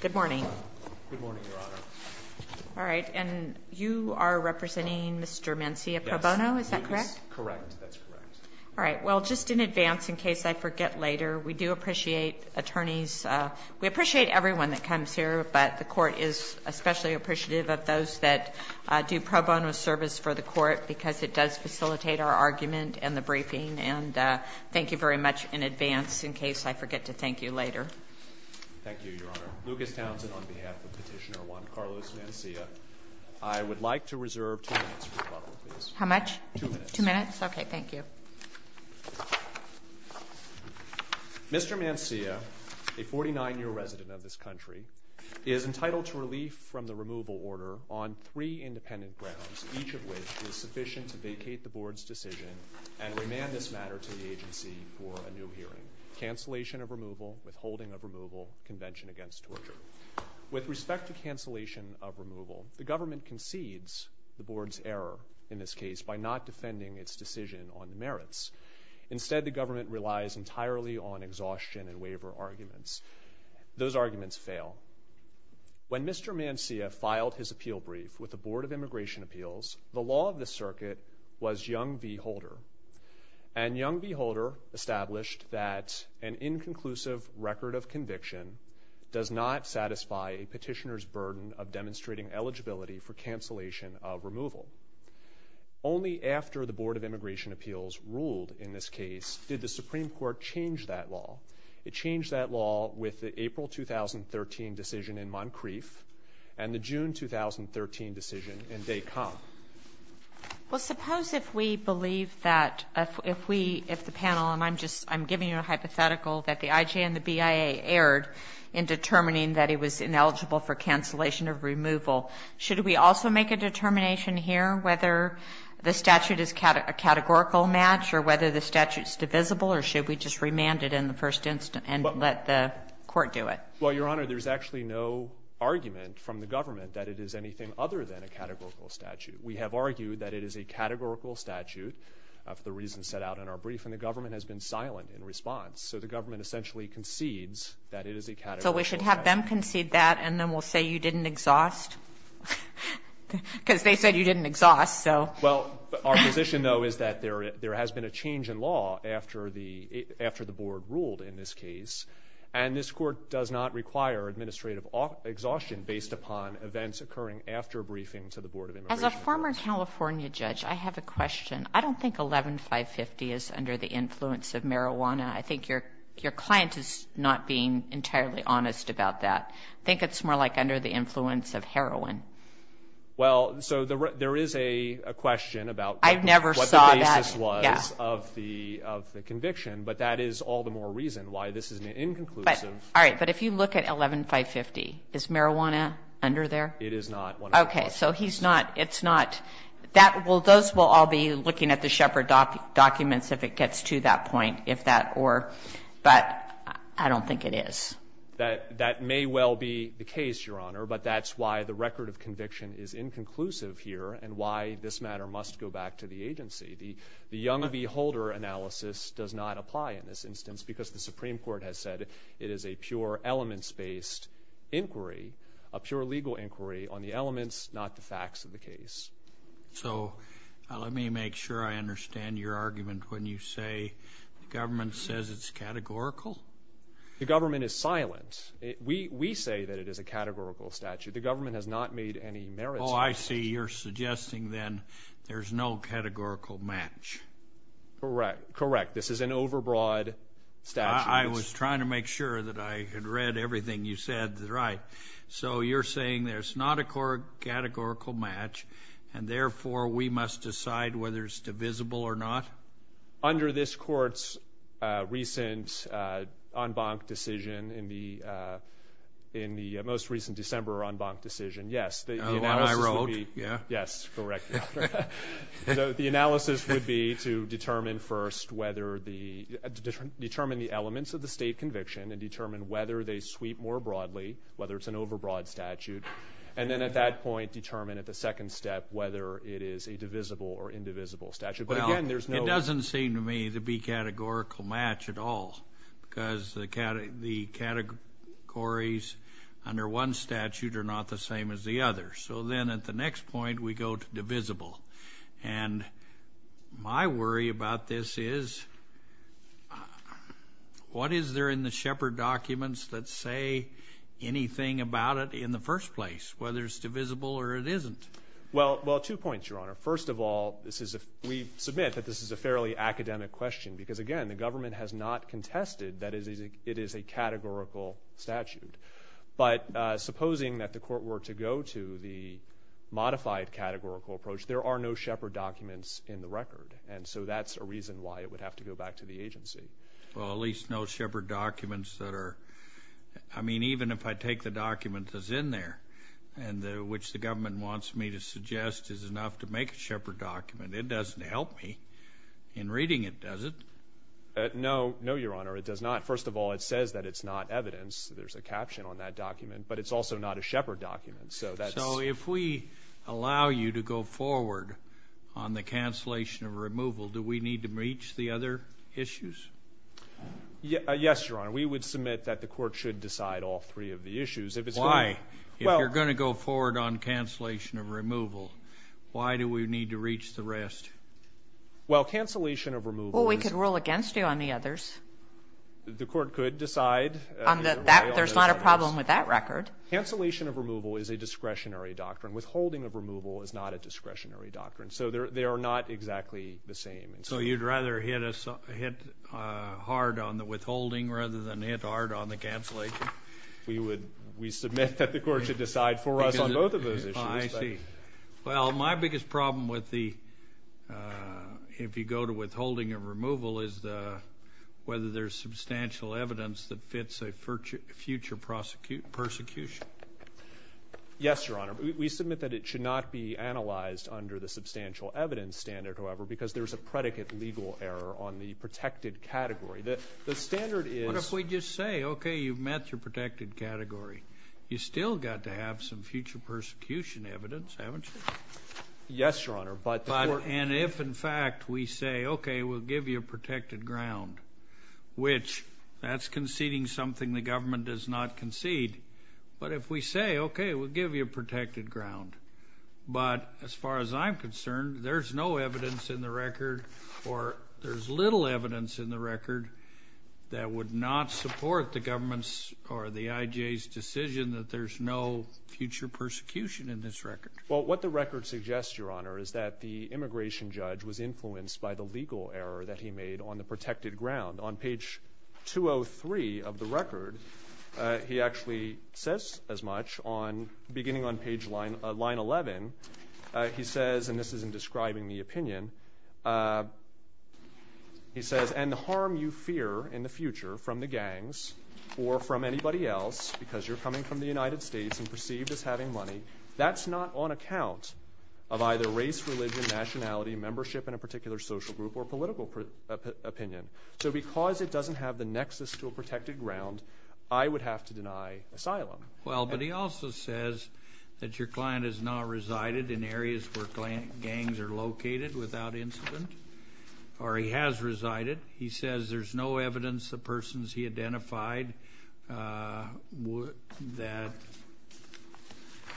Good morning. Good morning, Your Honor. All right. And you are representing Mr. Mancilla Pro Bono, is that correct? Yes. He is. Correct. That's correct. All right. Well, just in advance in case I forget later, we do appreciate attorneys. We appreciate everyone that comes here, but the Court is especially appreciative of those that do pro bono service for the Court because it does facilitate our argument and the briefing. And thank you very much in advance in case I forget to thank you later. Thank you, Your Honor. Lucas Townsend on behalf of Petitioner 1, Carlos Mancilla. I would like to reserve two minutes for rebuttal, please. How much? Two minutes. Two minutes? Okay. Thank you. Mr. Mancilla, a 49-year resident of this country, is entitled to relief from the removal order on three independent grounds, each of which is sufficient to vacate the Board's decision and remand this matter to the agency for a new hearing. Cancellation of removal, withholding of removal, convention against torture. With respect to cancellation of removal, the government concedes the Board's error in this case by not defending its decision on the merits. Instead, the government relies entirely on exhaustion and waiver arguments. Those arguments fail. When Mr. Mancilla filed his appeal brief with the Board of Immigration Appeals, the law of the circuit was Jung v. Holder, and Jung v. Holder established that an inconclusive record of conviction does not satisfy a petitioner's burden of demonstrating eligibility for cancellation of removal. Only after the Board of Immigration Appeals ruled in this case did the Supreme Court change that law. It changed that law with the April 2013 decision in Moncrief and the June 2013 decision in Des Camps. Well, suppose if we believe that if we, if the panel, and I'm just, I'm giving you a hypothetical that the IJ and the BIA erred in determining that he was ineligible for cancellation of removal, should we also make a determination here whether the statute is a categorical match or whether the statute is divisible, or should we just remand it in the first instance and let the court do it? Well, Your Honor, there's actually no argument from the government that it is anything other than a categorical statute. We have argued that it is a categorical statute for the reasons set out in our brief, and the government has been silent in response. So the government essentially concedes that it is a categorical statute. So we should have them concede that, and then we'll say you didn't exhaust? Because they said you didn't exhaust, so. Well, our position, though, is that there has been a change in law after the board ruled in this case, and this court does not require administrative exhaustion based upon events occurring after a briefing to the Board of Immigration. As a former California judge, I have a question. I don't think 11-550 is under the influence of marijuana. I think your client is not being entirely honest about that. I think it's more like under the influence of heroin. Well, so there is a question about what the basis was of the conviction, but that is all the more reason why this is an inconclusive. All right. But if you look at 11-550, is marijuana under there? It is not. Okay. So he's not, it's not. That will, those will all be looking at the Shepard documents if it gets to that point, if that or, but I don't think it is. That may well be the case, Your Honor, but that's why the record of conviction is inconclusive here, and why this matter must go back to the agency. The young beholder analysis does not apply in this instance because the Supreme Court has said it is a pure elements-based inquiry, a pure legal inquiry on the elements, not the facts of the case. So let me make sure I understand your argument when you say the government says it's categorical? The government is silent. We say that it is a categorical statute. The government has not made any merits. Oh, I see. You're suggesting then there's no categorical match. Correct. Correct. This is an overbroad statute. I was trying to make sure that I had read everything you said. Right. So you're saying there's not a categorical match, and therefore we must decide whether it's divisible or not? Under this Court's recent en banc decision, in the most recent December en banc decision, yes. The one I wrote? Yes. Correct. The analysis would be to determine first whether the – determine the elements of the state conviction, and determine whether they sweep more broadly, whether it's an overbroad statute, and then at that point determine at the second step whether it is a divisible or indivisible statute. But again, there's no – Well, it doesn't seem to me to be categorical match at all, because the categories under one statute are not the same as the other. So then at the next point, we go to divisible. And my worry about this is what is there in the Shepard documents that say anything about it in the first place, whether it's divisible or it isn't? Well, two points, Your Honor. First of all, this is a – we submit that this is a fairly academic question, because again, the government has not contested that it is a categorical statute. But supposing that the Court were to go to the modified categorical approach, there are no Shepard documents in the record. And so that's a reason why it would have to go back to the agency. Well, at least no Shepard documents that are – I mean, even if I take the document that's in there and which the government wants me to suggest is enough to make a Shepard document, it doesn't help me in reading it, does it? No. No, Your Honor. It does not. First of all, it says that it's not evidence. There's a caption on that document. But it's also not a Shepard document. So that's – So if we allow you to go forward on the cancellation of removal, do we need to breach the other issues? Yes, Your Honor. We would submit that the Court should decide all three of the issues. If it's going to – Why? If you're going to go forward on cancellation of removal, why do we need to reach the rest? Well, cancellation of removal is – Well, we could rule against you on the others. The Court could decide – There's not a problem with that record. Cancellation of removal is a discretionary doctrine. Withholding of removal is not a discretionary doctrine. So they are not exactly the same. So you'd rather hit hard on the withholding rather than hit hard on the cancellation? We would – we submit that the Court should decide for us on both of those issues. I see. Well, my biggest problem with the – if you go to withholding of removal is the – whether there's substantial evidence that fits a future prosecution. Yes, Your Honor. We submit that it should not be analyzed under the substantial evidence standard, however, because there's a predicate legal error on the protected category. The standard is – you still got to have some future persecution evidence, haven't you? Yes, Your Honor, but the Court – And if, in fact, we say, okay, we'll give you a protected ground, which that's conceding something the government does not concede. But if we say, okay, we'll give you a protected ground, but as far as I'm concerned, there's no evidence in the record or there's little evidence in the record that would not support the government's or the IJ's decision that there's no future persecution in this record. Well, what the record suggests, Your Honor, is that the immigration judge was influenced by the legal error that he made on the protected ground. On page 203 of the record, he actually says as much on – beginning on page – line 11, he says – and this isn't describing the opinion – he says, and the harm you fear in the future from the gangs or from anybody else, because you're coming from the United States and perceived as having money, that's not on account of either race, religion, nationality, membership in a particular social group, or political opinion. So because it doesn't have the nexus to a protected ground, I would have to deny asylum. Well, but he also says that your client has now resided in areas where gangs are located without incident, or he has resided. He says there's no evidence the persons he identified that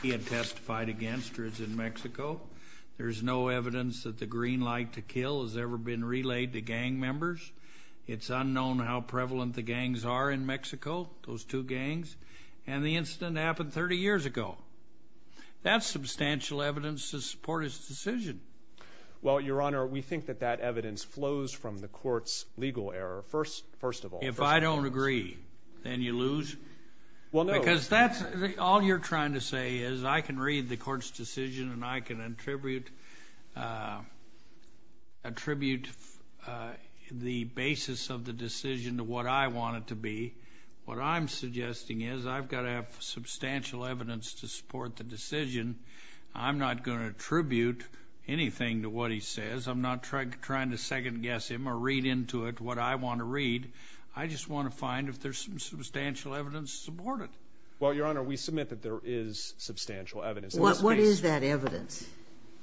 he had testified against are in Mexico. There's no evidence that the green light to kill has ever been relayed to gang members. It's unknown how prevalent the gangs are in Mexico, those two gangs, and the incident happened 30 years ago. That's substantial evidence to support his decision. Well, Your Honor, we think that that evidence flows from the court's legal error, first of all. If I don't agree, then you lose? Well, no. Because that's – all you're trying to say is I can read the court's decision and I can attribute the basis of the decision to what I want it to be. What I'm suggesting is I've got to have substantial evidence to support the decision. I'm not going to attribute anything to what he says. I'm not trying to second-guess him or read into it what I want to read. I just want to find if there's some substantial evidence to support it. Well, Your Honor, we submit that there is substantial evidence. What is that evidence?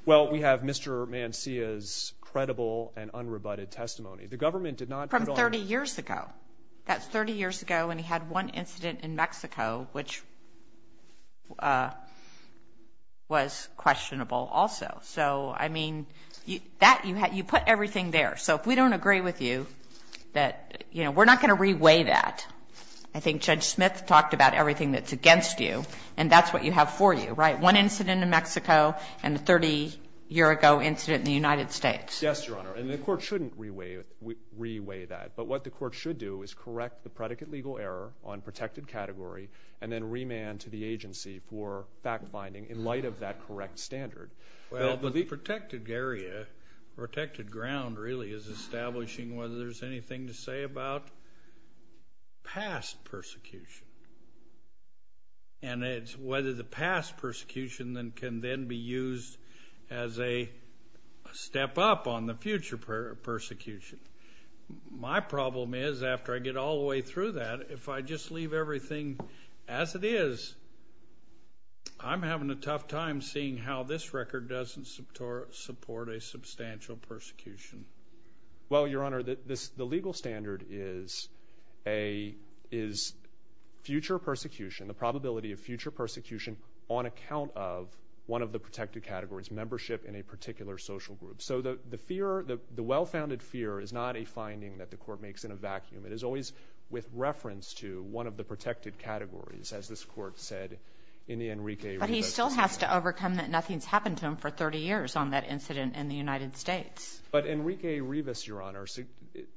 Well, we have Mr. Mancilla's credible and unrebutted testimony. The government did not put on – From 30 years ago. That's 30 years ago, and he had one incident in Mexico, which was questionable also. So, I mean, that – you put everything there. So if we don't agree with you that – you know, we're not going to reweigh that. I think Judge Smith talked about everything that's against you, and that's what you have for you, right? One incident in Mexico and a 30-year-ago incident in the United States. Yes, Your Honor, and the court shouldn't reweigh that. But what the court should do is correct the predicate legal error on protected category and then remand to the agency for fact-finding in light of that correct standard. Well, the protected area, protected ground, really, is establishing whether there's anything to say about past persecution. And it's whether the past persecution can then be used as a step up on the future persecution. My problem is, after I get all the way through that, if I just leave everything as it is, I'm having a tough time seeing how this record doesn't support a substantial persecution. Well, Your Honor, the legal standard is future persecution, the probability of future persecution on account of one of the protected categories, membership in a particular social group. So the fear, the well-founded fear is not a finding that the court makes in a vacuum. It is always with reference to one of the protected categories, as this court said in the Enrique Rivas case. But he still has to overcome that nothing's happened to him for 30 years on that incident in the United States. But Enrique Rivas, Your Honor,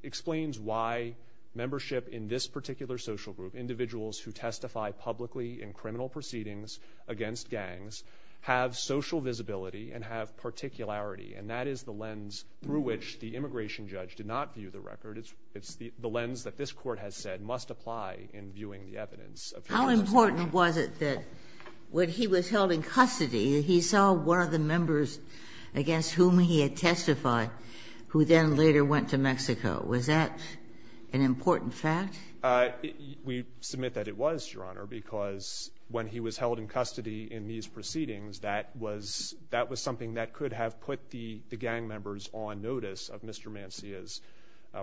explains why membership in this particular social group, individuals who testify publicly in criminal proceedings against gangs, have social visibility and have particularity. And that is the lens through which the immigration judge did not view the record. It's the lens that this court has said must apply in viewing the evidence. How important was it that when he was held in custody, he saw one of the members against whom he had testified who then later went to Mexico? Was that an important fact? We submit that it was, Your Honor, because when he was held in custody in these proceedings, that was something that could have put the gang members on notice of Mr. Mancilla's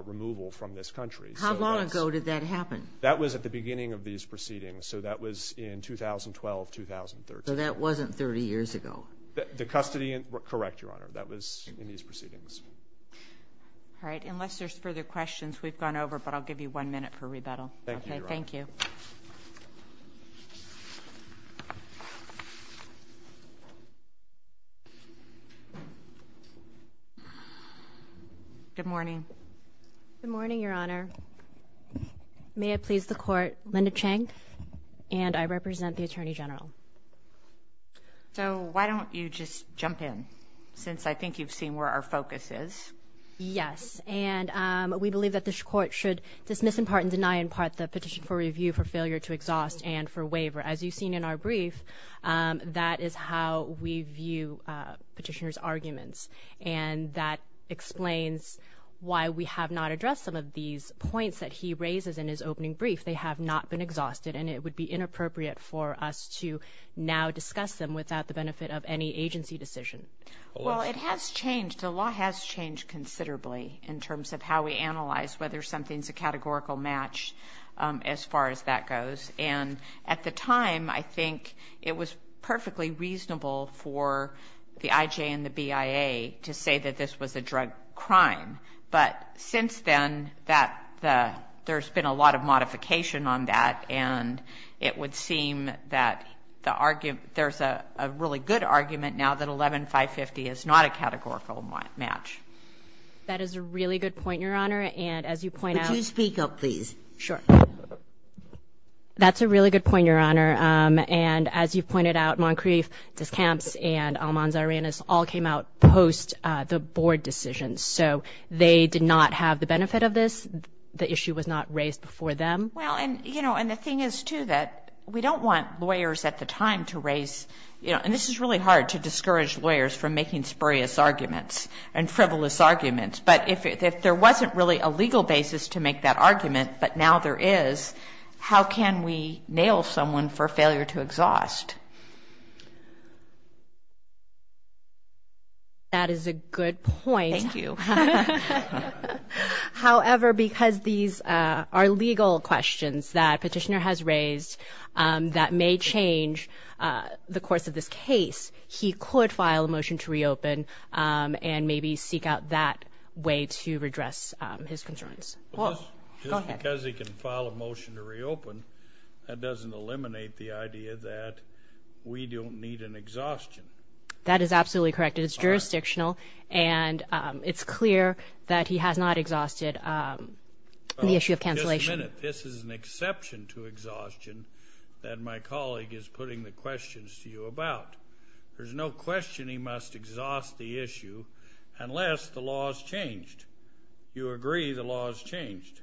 removal from this country. How long ago did that happen? That was at the beginning of these proceedings, so that was in 2012, 2013. So that wasn't 30 years ago? The custody, correct, Your Honor, that was in these proceedings. All right. Unless there's further questions, we've gone over, but I'll give you one minute for rebuttal. Thank you, Your Honor. Thank you. Good morning. Good morning, Your Honor. May it please the Court, Linda Chang, and I represent the Attorney General. So why don't you just jump in, since I think you've seen where our focus is. Yes, and we believe that this Court should dismiss in part and deny in part the petition for review for failure to exhaust and for waiver. As you've seen in our brief, that is how we view petitioners' arguments, and that explains why we have not addressed some of these points that he raises in his opening brief. And it would be inappropriate for us to now discuss them without the benefit of any agency decision. Well, it has changed. The law has changed considerably in terms of how we analyze whether something's a categorical match as far as that goes. And at the time, I think it was perfectly reasonable for the IJ and the BIA to say that this was a drug crime. But since then, there's been a lot of modification on that, and it would seem that there's a really good argument now that 11-550 is not a categorical match. That is a really good point, Your Honor. And as you point out— Would you speak up, please? Sure. That's a really good point, Your Honor. And as you've pointed out, Moncrief, Discamps, and Almanza-Arenas all came out post the board decision. So they did not have the benefit of this. The issue was not raised before them. Well, and, you know, and the thing is, too, that we don't want lawyers at the time to raise— and this is really hard to discourage lawyers from making spurious arguments and frivolous arguments. But if there wasn't really a legal basis to make that argument, but now there is, how can we nail someone for failure to exhaust? That is a good point. Thank you. However, because these are legal questions that Petitioner has raised that may change the course of this case, he could file a motion to reopen and maybe seek out that way to redress his concerns. Well, just because he can file a motion to reopen, that doesn't eliminate the idea that we don't need an exhaustion. That is absolutely correct. It is jurisdictional, and it's clear that he has not exhausted the issue of cancellation. Just a minute. This is an exception to exhaustion that my colleague is putting the questions to you about. There's no question he must exhaust the issue unless the law is changed. You agree the law is changed.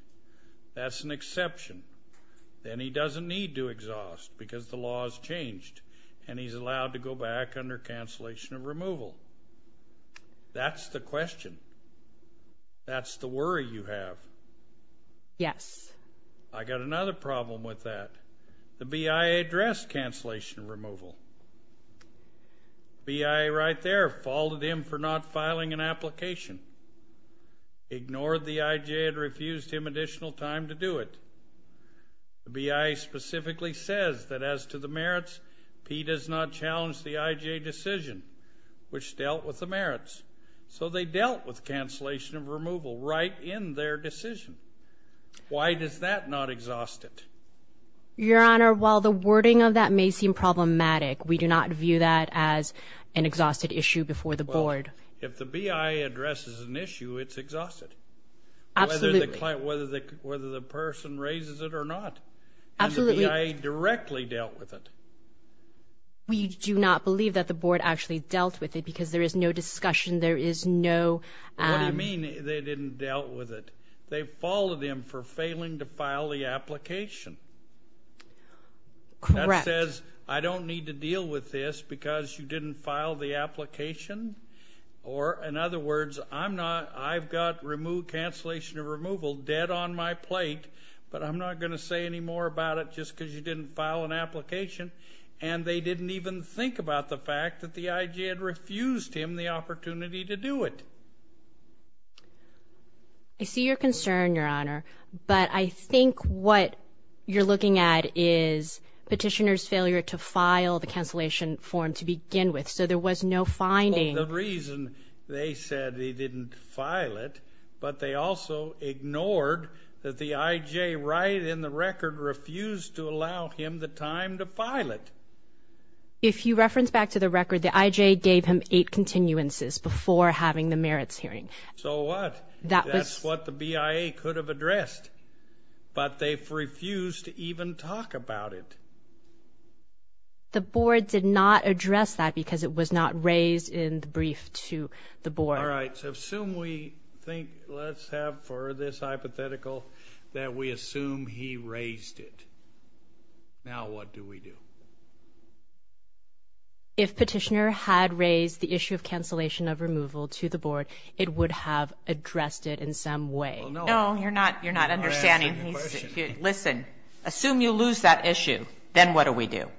That's an exception. Then he doesn't need to exhaust because the law is changed, and he's allowed to go back under cancellation of removal. That's the question. That's the worry you have. Yes. I got another problem with that. The BIA addressed cancellation of removal. BIA right there faulted him for not filing an application, ignored the IJ, and refused him additional time to do it. The BIA specifically says that as to the merits, P does not challenge the IJ decision, which dealt with the merits. So they dealt with cancellation of removal right in their decision. Why does that not exhaust it? Your Honor, while the wording of that may seem problematic, we do not view that as an exhausted issue before the board. If the BIA addresses an issue, it's exhausted. Absolutely. Whether the person raises it or not. Absolutely. And the BIA directly dealt with it. We do not believe that the board actually dealt with it because there is no discussion. There is no ‑‑ What do you mean they didn't deal with it? They faulted him for failing to file the application. Correct. That says I don't need to deal with this because you didn't file the application. Or, in other words, I'm not ‑‑ I've got cancellation of removal dead on my plate, but I'm not going to say any more about it just because you didn't file an application. And they didn't even think about the fact that the IJ had refused him the opportunity to do it. I see your concern, Your Honor. But I think what you're looking at is petitioner's failure to file the cancellation form to begin with. So there was no finding. The reason they said he didn't file it, but they also ignored that the IJ, right in the record, refused to allow him the time to file it. If you reference back to the record, the IJ gave him eight continuances before having the merits hearing. So what? That's what the BIA could have addressed. But they refused to even talk about it. The board did not address that because it was not raised in the brief to the board. All right. So assume we think ‑‑ let's have for this hypothetical that we assume he raised it. Now what do we do? If petitioner had raised the issue of cancellation of removal to the board, it would have addressed it in some way. No, you're not understanding. Listen. Assume you lose that issue. Then what do we do?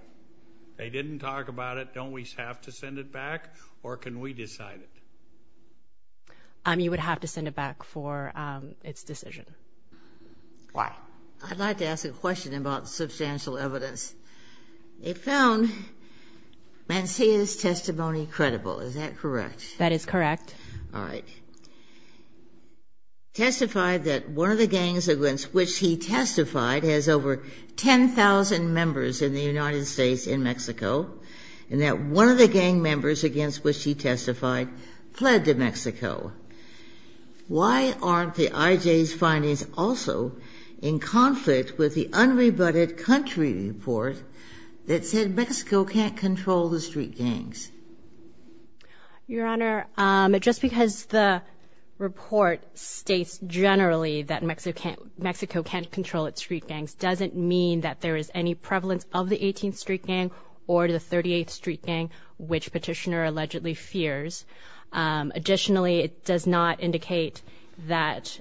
They didn't talk about it. Don't we have to send it back? Or can we decide it? You would have to send it back for its decision. Why? Well, I'd like to ask a question about substantial evidence. They found Mancilla's testimony credible. Is that correct? That is correct. All right. Testified that one of the gangs against which he testified has over 10,000 members in the United States in Mexico, and that one of the gang members against which he testified fled to Mexico. Why aren't the IJ's findings also in conflict with the unrebutted country report that said Mexico can't control the street gangs? Your Honor, just because the report states generally that Mexico can't control its street gangs doesn't mean that there is any prevalence of the 18th street gang or the 38th street gang, which petitioner allegedly fears. Additionally, it does not indicate that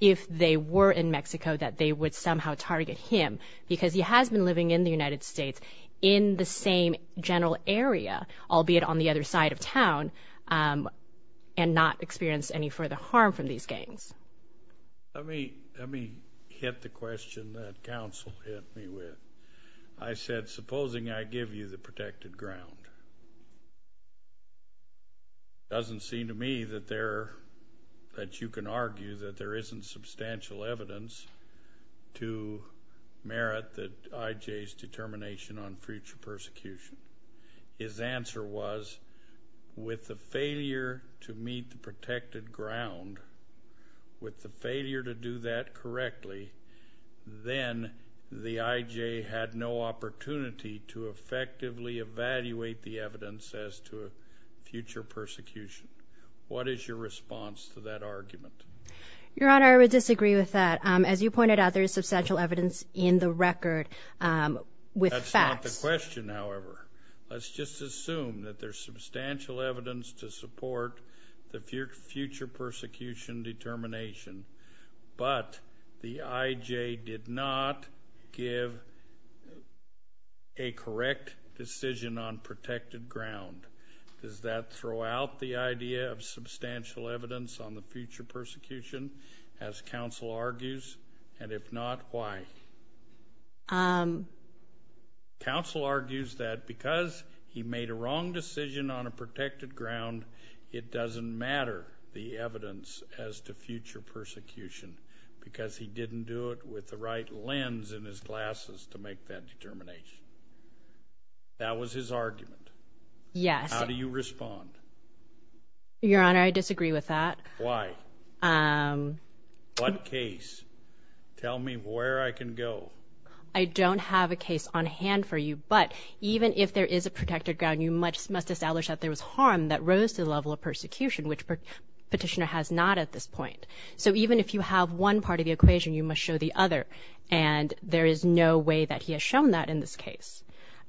if they were in Mexico that they would somehow target him, because he has been living in the United States in the same general area, albeit on the other side of town, and not experienced any further harm from these gangs. Let me hit the question that counsel hit me with. I said, supposing I give you the protected ground, it doesn't seem to me that you can argue that there isn't substantial evidence to merit the IJ's determination on future persecution. His answer was, with the failure to meet the protected ground, with the failure to do that correctly, then the IJ had no opportunity to effectively evaluate the evidence as to future persecution. What is your response to that argument? Your Honor, I would disagree with that. As you pointed out, there is substantial evidence in the record with facts. That's not the question, however. Let's just assume that there's substantial evidence to support the future persecution determination, but the IJ did not give a correct decision on protected ground. Does that throw out the idea of substantial evidence on the future persecution, as counsel argues? And if not, why? Counsel argues that because he made a wrong decision on a protected ground, it doesn't matter the evidence as to future persecution, because he didn't do it with the right lens in his glasses to make that determination. That was his argument. Yes. How do you respond? Your Honor, I disagree with that. Why? What case? Tell me where I can go. I don't have a case on hand for you, but even if there is a protected ground, you must establish that there was harm that rose to the level of persecution, which the petitioner has not at this point. So even if you have one part of the equation, you must show the other, and there is no way that he has shown that in this case.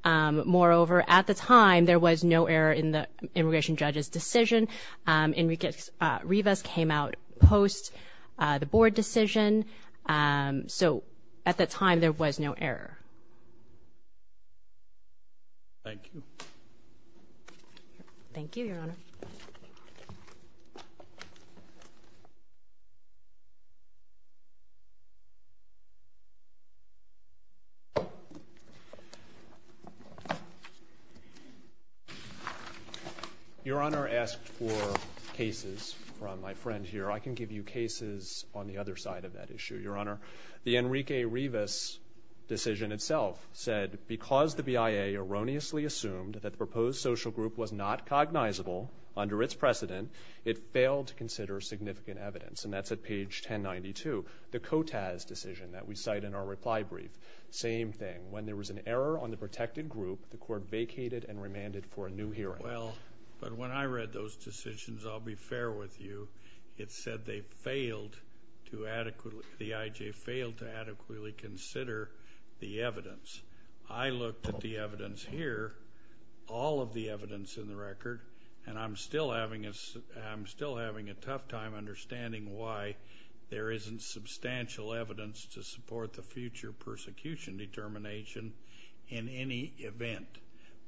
Moreover, at the time, there was no error in the immigration judge's decision, and Rivas came out post the board decision. So at the time, there was no error. Thank you. Thank you, Your Honor. Your Honor asked for cases from my friend here. I can give you cases on the other side of that issue, Your Honor. The Enrique Rivas decision itself said, because the BIA erroneously assumed that the proposed social group was not cognizable under its precedent, it failed to consider significant evidence. And that's at page 1092. The COTAS decision that we cite in our reply brief, same thing. When there was an error on the protected group, the court vacated and remanded for a new hearing. Well, but when I read those decisions, I'll be fair with you. It said they failed to adequately, the IJ failed to adequately consider the evidence. I looked at the evidence here, all of the evidence in the record, and I'm still having a tough time understanding why there isn't substantial evidence to support the future persecution determination in any event,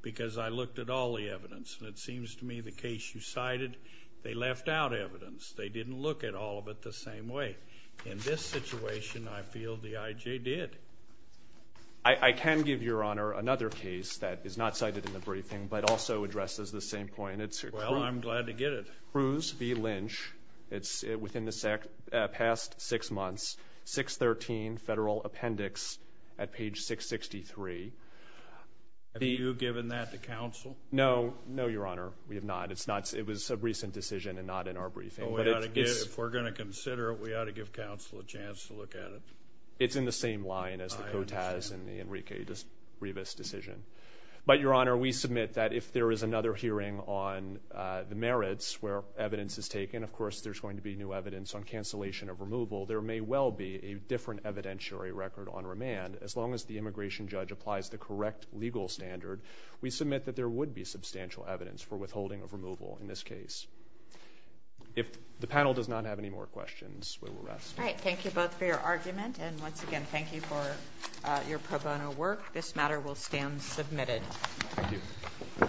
because I looked at all the evidence, and it seems to me the case you cited, they left out evidence. They didn't look at all of it the same way. In this situation, I feel the IJ did. I can give Your Honor another case that is not cited in the briefing but also addresses the same point. Well, I'm glad to get it. Cruz v. Lynch. It's within the past six months, 613 Federal Appendix at page 663. Have you given that to counsel? No. No, Your Honor, we have not. It was a recent decision and not in our briefing. If we're going to consider it, we ought to give counsel a chance to look at it. It's in the same line as the COTAS and the Enrique Rivas decision. But, Your Honor, we submit that if there is another hearing on the merits where evidence is taken, of course there's going to be new evidence on cancellation of removal. There may well be a different evidentiary record on remand. As long as the immigration judge applies the correct legal standard, we submit that there would be substantial evidence for withholding of removal in this case. If the panel does not have any more questions, we will rest. All right. Thank you both for your argument. And once again, thank you for your pro bono work. This matter will stand submitted. Thank you.